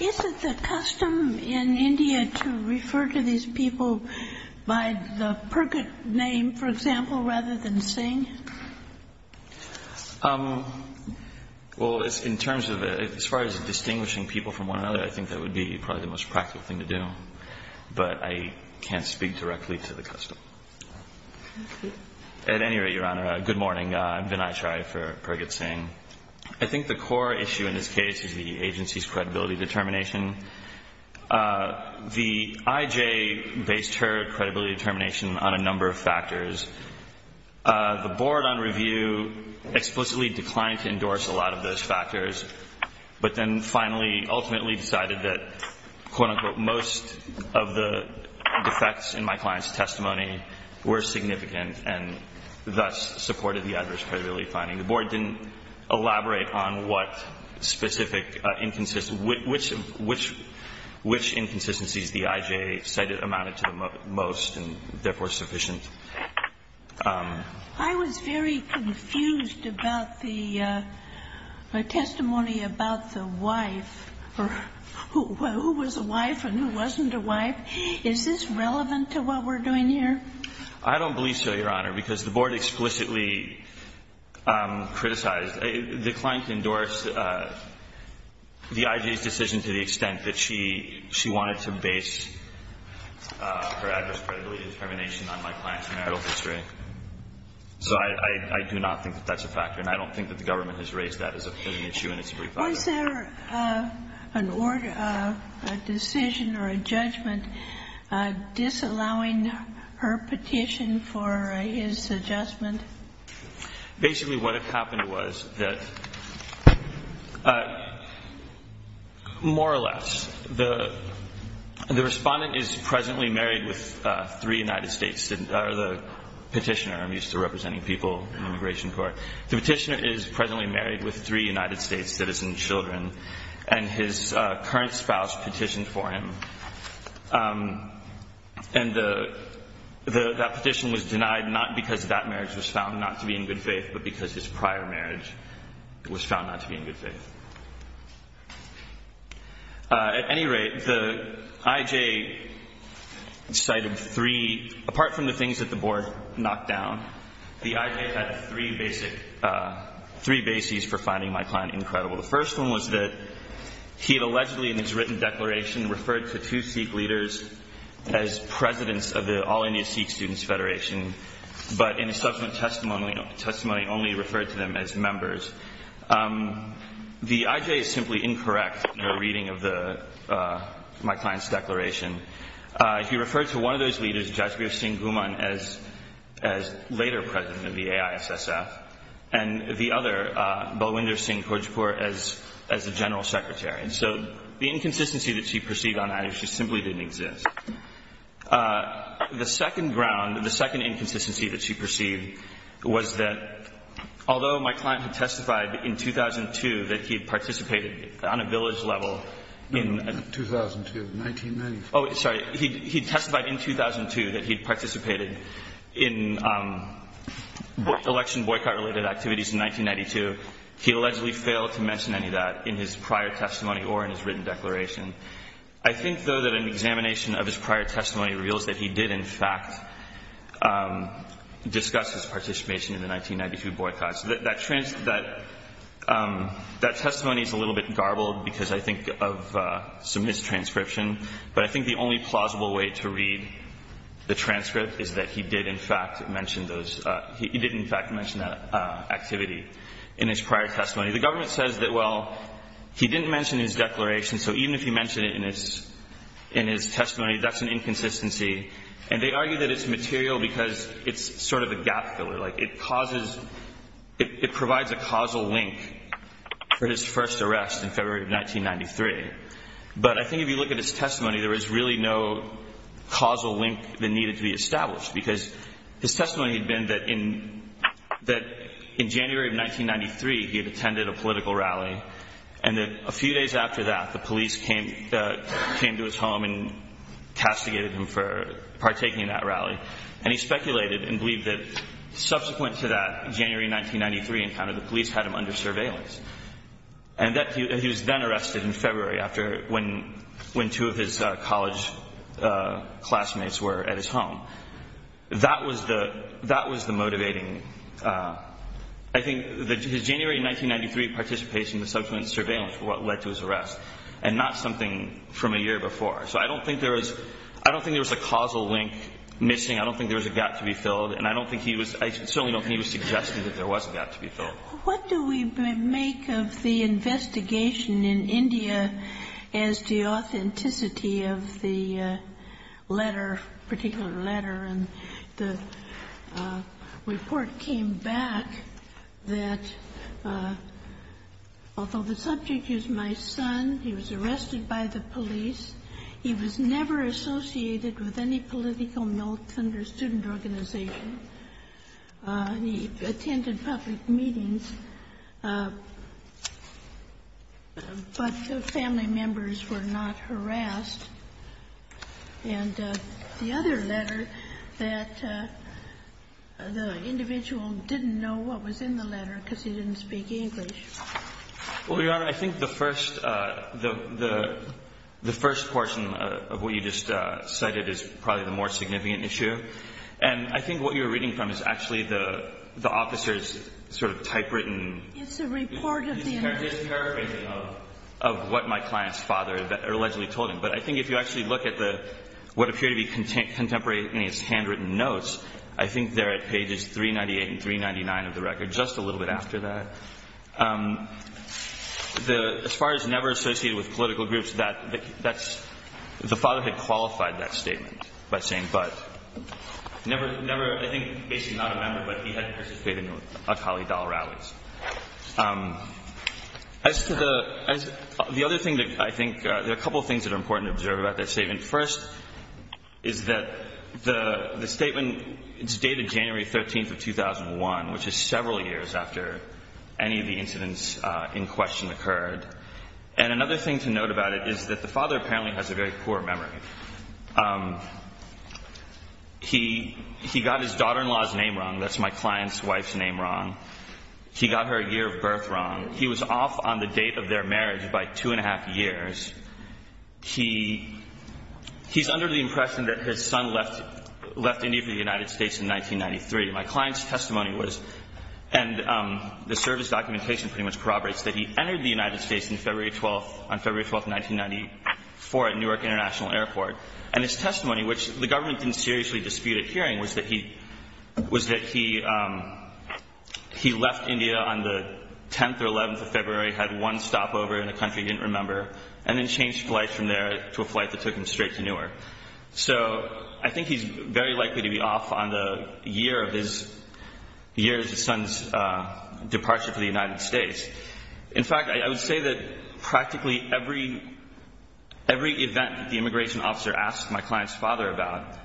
Is it the custom in India to refer to these people by the Purgat name, for example, rather than Singh? Well, as far as distinguishing people from one another, I think that would be probably the most practical thing to do. But I can't speak directly to the custom. At any rate, Your Honor, good morning. I'm Vinay Chai for Purgat Singh. I think the core issue in this case is the agency's credibility determination. The IJ based her credibility determination on a number of factors. The board on review explicitly declined to endorse a lot of those factors, but then finally ultimately decided that, quote-unquote, most of the defects in my client's testimony were significant and thus supported the adverse credibility finding. The board didn't elaborate on what specific inconsistencies, which inconsistencies the IJ cited amounted to the most and therefore sufficient. I was very confused about the testimony about the wife or who was a wife and who wasn't a wife. Is this relevant to what we're doing here? I don't believe so, Your Honor, because the board explicitly criticized, declined to endorse the IJ's decision to the extent that she wanted to base her adverse credibility determination on my client's marital history. So I do not think that that's a factor, and I don't think that the government has raised that as an issue in its brief. Was there an order, a decision or a judgment disallowing her petition for his adjustment? Basically what had happened was that more or less the Respondent is presently married with three United States citizens, or the petitioner. I'm used to representing people in immigration court. The petitioner is presently married with three United States citizen children, and his current spouse petitioned for him. And that petition was denied not because that marriage was found not to be in good faith, but because his prior marriage was found not to be in good faith. At any rate, the IJ cited three, apart from the things that the board knocked down, the IJ had three bases for finding my client incredible. The first one was that he had allegedly in his written declaration referred to two Sikh leaders as presidents of the All India Sikh Students' Federation, but in his subsequent testimony only referred to them as members. The IJ is simply incorrect in their reading of my client's declaration. He referred to one of those leaders, Jasbir Singh Guman, as later president of the AISSF, and the other, Balwinder Singh Khodjipur, as the general secretary. And so the inconsistency that she perceived on that issue simply didn't exist. The second ground, the second inconsistency that she perceived was that although my client had testified in 2002 that he had participated on a village level in – sorry, he testified in 2002 that he had participated in election boycott-related activities in 1992, he allegedly failed to mention any of that in his prior testimony or in his written declaration. I think, though, that an examination of his prior testimony reveals that he did, in fact, discuss his participation in the 1992 boycott. So that testimony is a little bit garbled because I think of some mistranscription, but I think the only plausible way to read the transcript is that he did, in fact, mention those – he did, in fact, mention that activity in his prior testimony. The government says that, well, he didn't mention his declaration, so even if he mentioned it in his testimony, that's an inconsistency. And they argue that it's material because it's sort of a gap filler. Like, it causes – it provides a causal link for his first arrest in February of 1993. But I think if you look at his testimony, there was really no causal link that needed to be established because his testimony had been that in January of 1993 he had attended a political rally and that a few days after that the police came to his home and castigated him for partaking in that rally. And he speculated and believed that subsequent to that January 1993 encounter, the police had him under surveillance. And that he was then arrested in February after – when two of his college classmates were at his home. That was the motivating – I think his January 1993 participation in subsequent surveillance were what led to his arrest and not something from a year before. So I don't think there was – I don't think there was a causal link missing. I don't think there was a gap to be filled. And I don't think he was – I certainly don't think he was suggesting that there was a gap to be filled. What do we make of the investigation in India as to the authenticity of the letter, particular letter? And the report came back that although the subject is my son, he was arrested by the police, he was never associated with any political militant or student organization. He attended public meetings, but the family members were not harassed. And the other letter that the individual didn't know what was in the letter because he didn't speak English. Well, Your Honor, I think the first – the first portion of what you just cited is probably the more significant issue. And I think what you're reading from is actually the officer's sort of typewritten – It's a report of the individual. It's a paraphrasing of what my client's father allegedly told him. But I think if you actually look at the – what appear to be contemporary in his handwritten notes, I think they're at pages 398 and 399 of the record, just a little bit after that. As far as never associated with political groups, that's – the father had qualified that statement by saying but never – I think basically not a member, but he had participated in Akali Dal rallies. As to the – the other thing that I think – there are a couple of things that are important to observe about that statement. First is that the statement is dated January 13th of 2001, which is several years after any of the incidents in question occurred. And another thing to note about it is that the father apparently has a very poor memory. He got his daughter-in-law's name wrong. That's my client's wife's name wrong. He got her year of birth wrong. He was off on the date of their marriage by two and a half years. He's under the impression that his son left India for the United States in 1993. My client's testimony was – and the service documentation pretty much corroborates – that he entered the United States on February 12th, 1994, at Newark International Airport. And his testimony, which the government didn't seriously dispute at hearing, was that he left India on the 10th or 11th of February, had one stopover in a country he didn't remember, and then changed flights from there to a flight that took him straight to Newark. So I think he's very likely to be off on the year of his son's departure for the United States. In fact, I would say that practically every event that the immigration officer asked my client's father about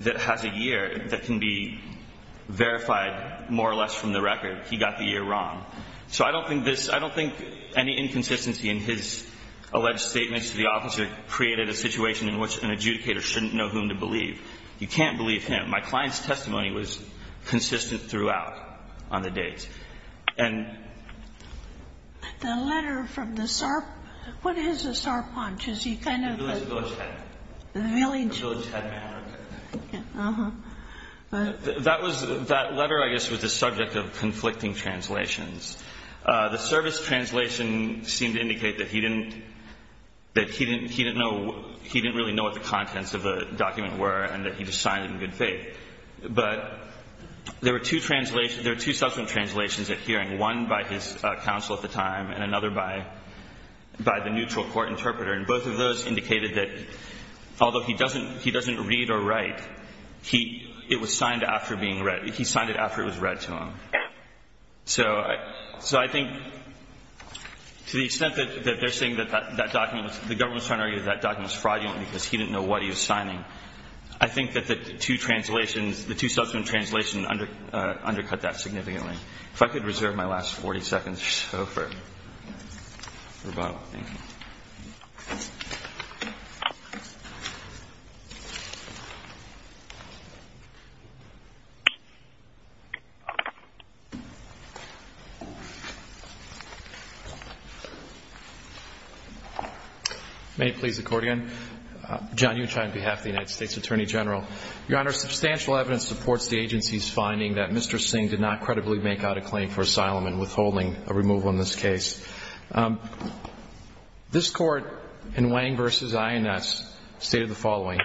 that has a year that can be verified more or less from the record, he got the year wrong. So I don't think this – I don't think any inconsistency in his alleged statements to the officer created a situation in which an adjudicator shouldn't know whom to believe. You can't believe him. My client's testimony was consistent throughout on the dates. And – The letter from the – what is a sarpanch? Is he kind of a – A village head. A village – A village head man. Uh-huh. That was – that letter, I guess, was the subject of conflicting translations. The service translation seemed to indicate that he didn't – that he didn't – he didn't know – he didn't really know what the contents of the document were and that he just signed it in good faith. But there were two translations – there were two subsequent translations at hearing, one by his counsel at the time and another by the neutral court interpreter. And both of those indicated that although he doesn't – he doesn't read or write, he – it was signed after being read. He signed it after it was read to him. So I think to the extent that they're saying that that document was – the government was trying to argue that that document was fraudulent because he didn't know what he was signing, I think that the two translations – the two subsequent translations undercut that significantly. If I could reserve my last 40 seconds or so for rebuttal. Thank you. May it please the Court again. John Uchai on behalf of the United States Attorney General. Your Honor, substantial evidence supports the agency's finding that Mr. Singh did not credibly make out a claim for asylum and withholding a removal in this case. This Court in Wang v. INS stated the following.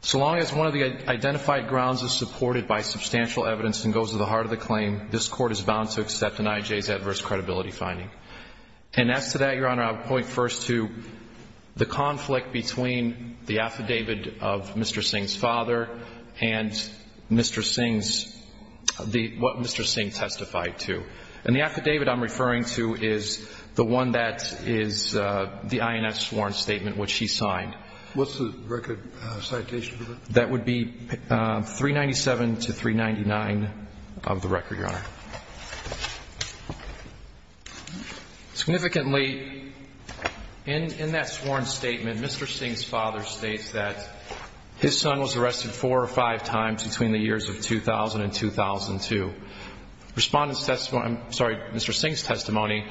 So long as one of the identified grounds is supported by substantial evidence and goes to the heart of the claim, this Court is bound to accept an IJ's adverse credibility finding. And as to that, Your Honor, I'll point first to the conflict between the affidavit of Mr. Singh's father and Mr. Singh's – and the affidavit I'm referring to is the one that is the INS sworn statement which he signed. What's the record citation for that? That would be 397 to 399 of the record, Your Honor. Significantly, in that sworn statement, Mr. Singh's father states that his son was arrested four or five times between the years of 2000 and 2002. Respondent's testimony – I'm sorry, Mr. Singh's testimony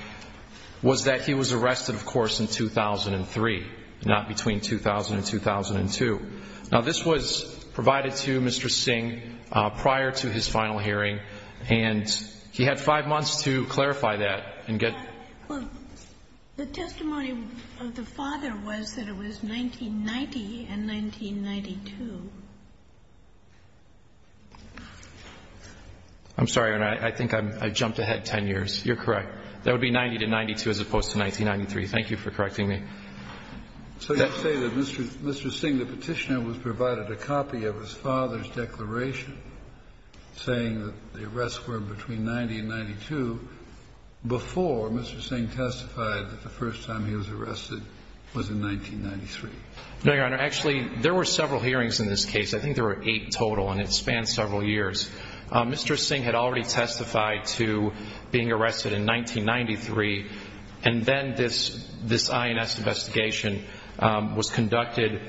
was that he was arrested, of course, in 2003, not between 2000 and 2002. Now, this was provided to Mr. Singh prior to his final hearing, and he had five months to clarify that and get – The testimony of the father was that it was 1990 and 1992. I'm sorry, Your Honor. I think I jumped ahead 10 years. You're correct. That would be 90 to 92 as opposed to 1993. Thank you for correcting me. So you're saying that Mr. Singh, the Petitioner, was provided a copy of his father's before Mr. Singh testified that the first time he was arrested was in 1993? No, Your Honor. Actually, there were several hearings in this case. I think there were eight total, and it spanned several years. Mr. Singh had already testified to being arrested in 1993, and then this INS investigation was conducted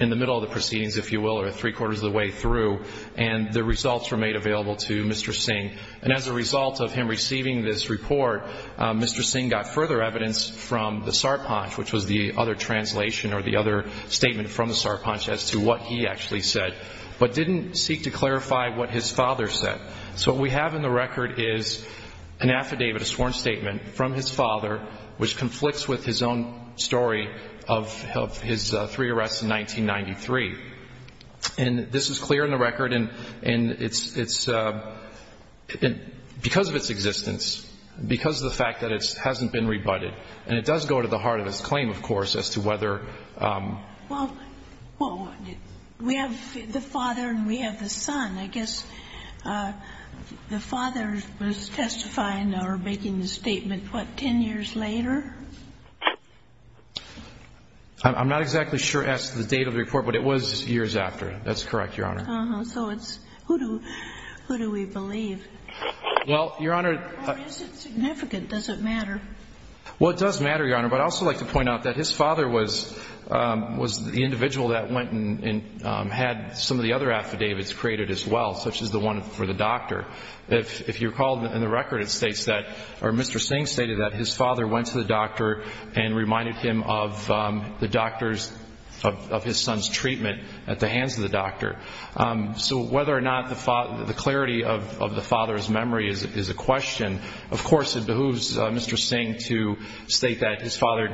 in the middle of the proceedings, if you will, or three-quarters of the way through, and the results were made available to Mr. Singh. And as a result of him receiving this report, Mr. Singh got further evidence from the Sarpanch, which was the other translation or the other statement from the Sarpanch as to what he actually said, but didn't seek to clarify what his father said. So what we have in the record is an affidavit, a sworn statement from his father, which conflicts with his own story of his three arrests in 1993. And this is clear in the record, and it's because of its existence, because of the fact that it hasn't been rebutted. And it does go to the heart of its claim, of course, as to whether... Well, we have the father and we have the son. I guess the father was testifying or making the statement, what, 10 years later? I'm not exactly sure as to the date of the report, but it was years after. That's correct, Your Honor. Uh-huh. So it's who do we believe? Well, Your Honor... Or is it significant? Does it matter? Well, it does matter, Your Honor, but I'd also like to point out that his father was the individual that went and had some of the other affidavits created as well, such as the one for the doctor. If you recall in the record, it states that, or Mr. Singh stated that his father went to the doctor and reminded him of the doctor's, of his son's treatment at the hands of the doctor. So whether or not the clarity of the father's memory is a question, of course, it behooves Mr. Singh to state that his father's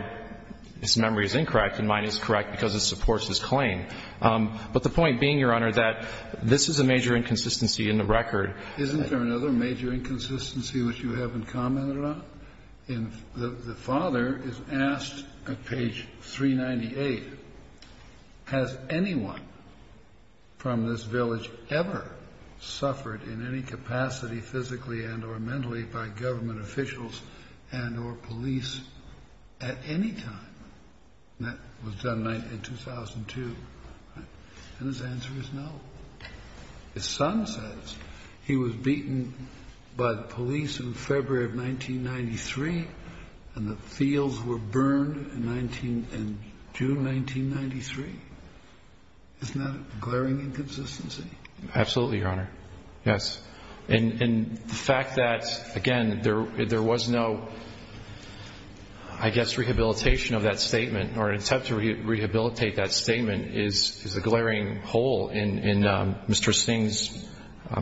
memory is incorrect and mine is correct because it supports his claim. But the point being, Your Honor, that this is a major inconsistency in the record. Isn't there another major inconsistency which you haven't commented on? The father is asked at page 398, has anyone from this village ever suffered in any capacity physically and or mentally by government officials and or police at any time? That was done in 2002. And his answer is no. His son says he was beaten by the police in February of 1993 and the fields were burned in June 1993. Isn't that a glaring inconsistency? Absolutely, Your Honor. Yes. And the fact that, again, there was no, I guess, rehabilitation of that statement or an attempt to rehabilitate that statement is a glaring hole in Mr. Singh's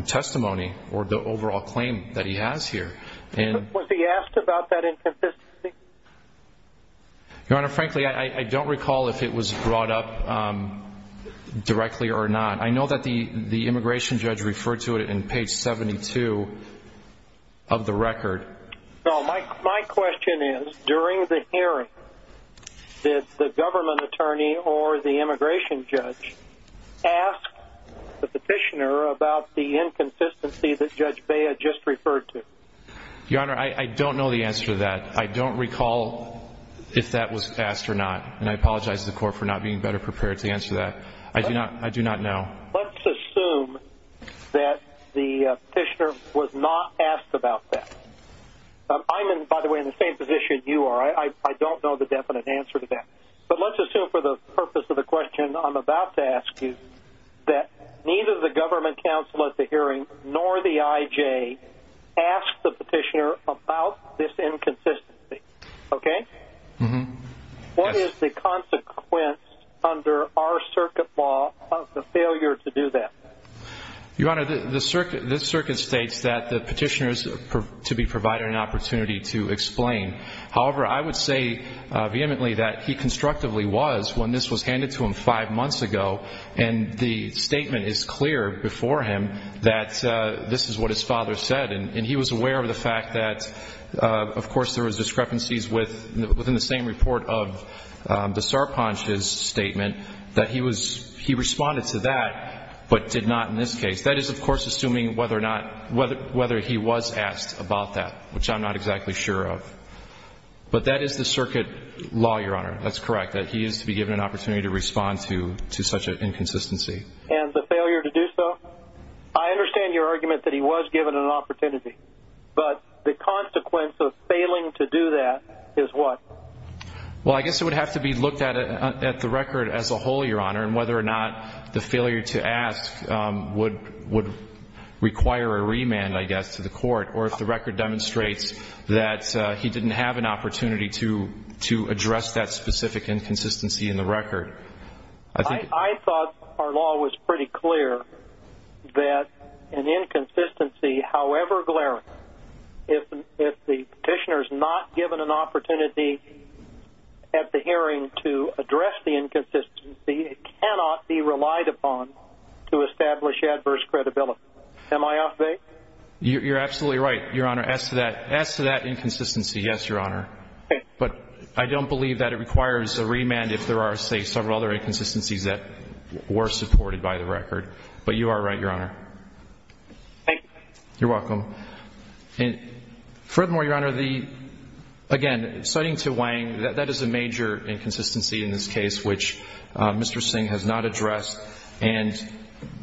testimony or the overall claim that he has here. Was he asked about that inconsistency? Your Honor, frankly, I don't recall if it was brought up directly or not. I know that the immigration judge referred to it in page 72 of the record. My question is, during the hearing, did the government attorney or the immigration judge ask the petitioner about the inconsistency that Judge Bea just referred to? Your Honor, I don't know the answer to that. I don't recall if that was asked or not. And I apologize to the court for not being better prepared to answer that. I do not know. Let's assume that the petitioner was not asked about that. I'm, by the way, in the same position you are. I don't know the definite answer to that. But let's assume for the purpose of the question I'm about to ask you that neither the government counsel at the hearing nor the IJ asked the petitioner about this inconsistency. Okay? What is the consequence under our circuit law of the failure to do that? Your Honor, this circuit states that the petitioner is to be provided an opportunity to explain. However, I would say vehemently that he constructively was when this was handed to him five months ago. And the statement is clear before him that this is what his father said. And he was aware of the fact that, of course, there was discrepancies within the same report of the Sarpanch's statement, that he responded to that but did not in this case. That is, of course, assuming whether he was asked about that, which I'm not exactly sure of. But that is the circuit law, Your Honor. That's correct, that he is to be given an opportunity to respond to such an inconsistency. And the failure to do so? I understand your argument that he was given an opportunity. But the consequence of failing to do that is what? Well, I guess it would have to be looked at the record as a whole, Your Honor, and whether or not the failure to ask would require a remand, I guess, to the court, or if the record demonstrates that he didn't have an opportunity to address that specific inconsistency in the record. I thought our law was pretty clear that an inconsistency, however glaring, if the petitioner is not given an opportunity at the hearing to address the inconsistency, it cannot be relied upon to establish adverse credibility. Am I off base? You're absolutely right, Your Honor. But I don't believe that it requires a remand if there are, say, several other inconsistencies that were supported by the record. But you are right, Your Honor. Thank you. You're welcome. Furthermore, Your Honor, again, citing to Wang, that is a major inconsistency in this case, which Mr. Singh has not addressed. And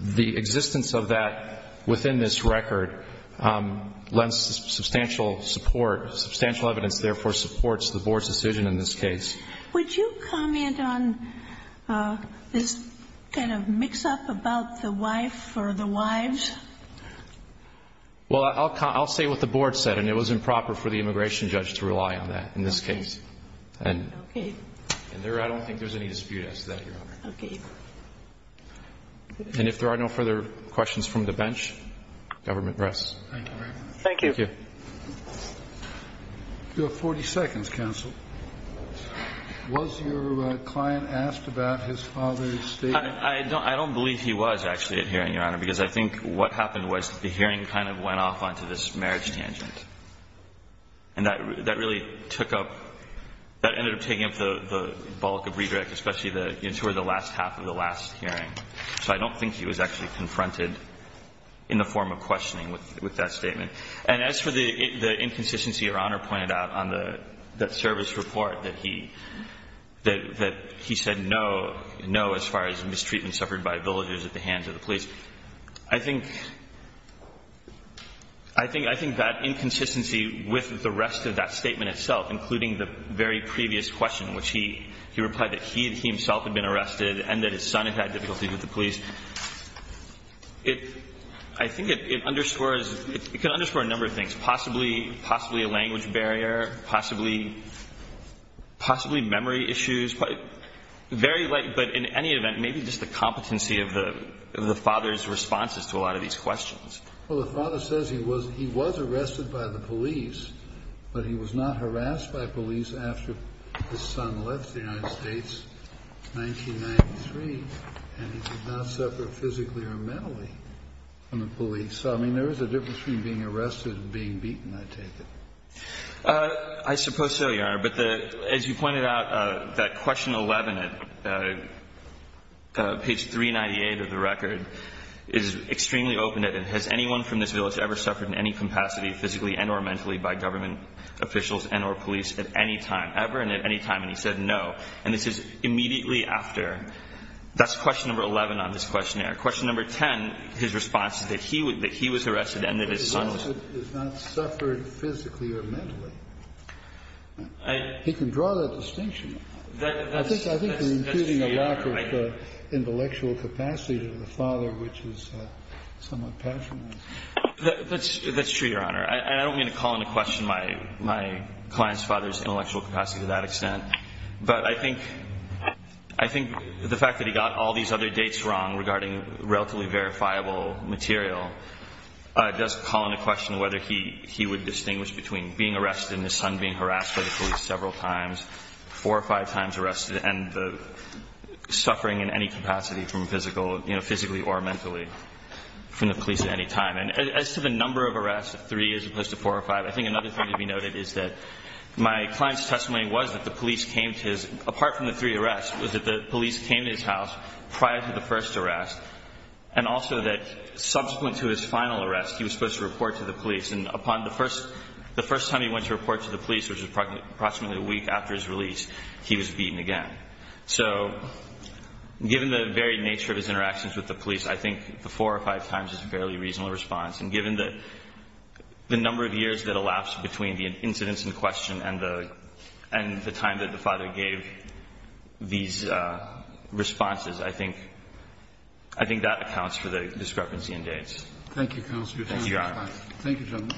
the existence of that within this record lends substantial support, substantial evidence, therefore supports the Board's decision in this case. Would you comment on this kind of mix-up about the wife or the wives? Well, I'll say what the Board said, and it was improper for the immigration judge to rely on that in this case. Okay. And I don't think there's any dispute as to that, Your Honor. Okay. And if there are no further questions from the bench, government rests. Thank you. Thank you. Thank you. You have 40 seconds, counsel. Was your client asked about his father's statement? I don't believe he was actually at hearing, Your Honor, because I think what happened was the hearing kind of went off onto this marriage tangent. And that really took up, that ended up taking up the bulk of redirect, especially toward the last half of the last hearing. So I don't think he was actually confronted in the form of questioning with that statement. And as for the inconsistency Your Honor pointed out on the service report that he said no, no as far as mistreatment suffered by villagers at the hands of the police, I think that inconsistency with the rest of that statement itself, including the very previous question in which he replied that he himself had been I think it underscores, it can underscore a number of things. Possibly a language barrier, possibly memory issues. But in any event, maybe just the competency of the father's responses to a lot of these questions. Well, the father says he was arrested by the police, but he was not harassed by police after his son left the United States in 1993, and he did not suffer physically or mentally from the police. I mean, there is a difference between being arrested and being beaten, I take it. I suppose so, Your Honor. But as you pointed out, that question 11 at page 398 of the record is extremely open. Has anyone from this village ever suffered in any capacity physically and or mentally by government officials and or police at any time, ever and at any time? And he said no. And this is immediately after. That's question number 11 on this questionnaire. Question number 10, his response is that he was arrested and that his son was. But his son has not suffered physically or mentally. He can draw that distinction. I think you're including a lack of intellectual capacity to the father, which is somewhat passionate. That's true, Your Honor. And I don't mean to call into question my client's father's intellectual capacity to that extent. But I think the fact that he got all these other dates wrong regarding relatively verifiable material does call into question whether he would distinguish between being arrested and his son being harassed by the police several times, four or five times arrested, and the suffering in any capacity from physically or mentally from the police at any time. And as to the number of arrests, three as opposed to four or five, I think another thing to be noted is that my client's testimony was that the police came to his apart from the three arrests was that the police came to his house prior to the first arrest and also that subsequent to his final arrest he was supposed to report to the police. And upon the first time he went to report to the police, which was approximately a week after his release, he was beaten again. So given the very nature of his interactions with the police, I think the four or five times is a fairly reasonable response. And given the number of years that elapsed between the incidents in question and the time that the father gave these responses, I think that accounts for the discrepancy in dates. Thank you, counsel. Thank you, Your Honor. Thank you, gentlemen.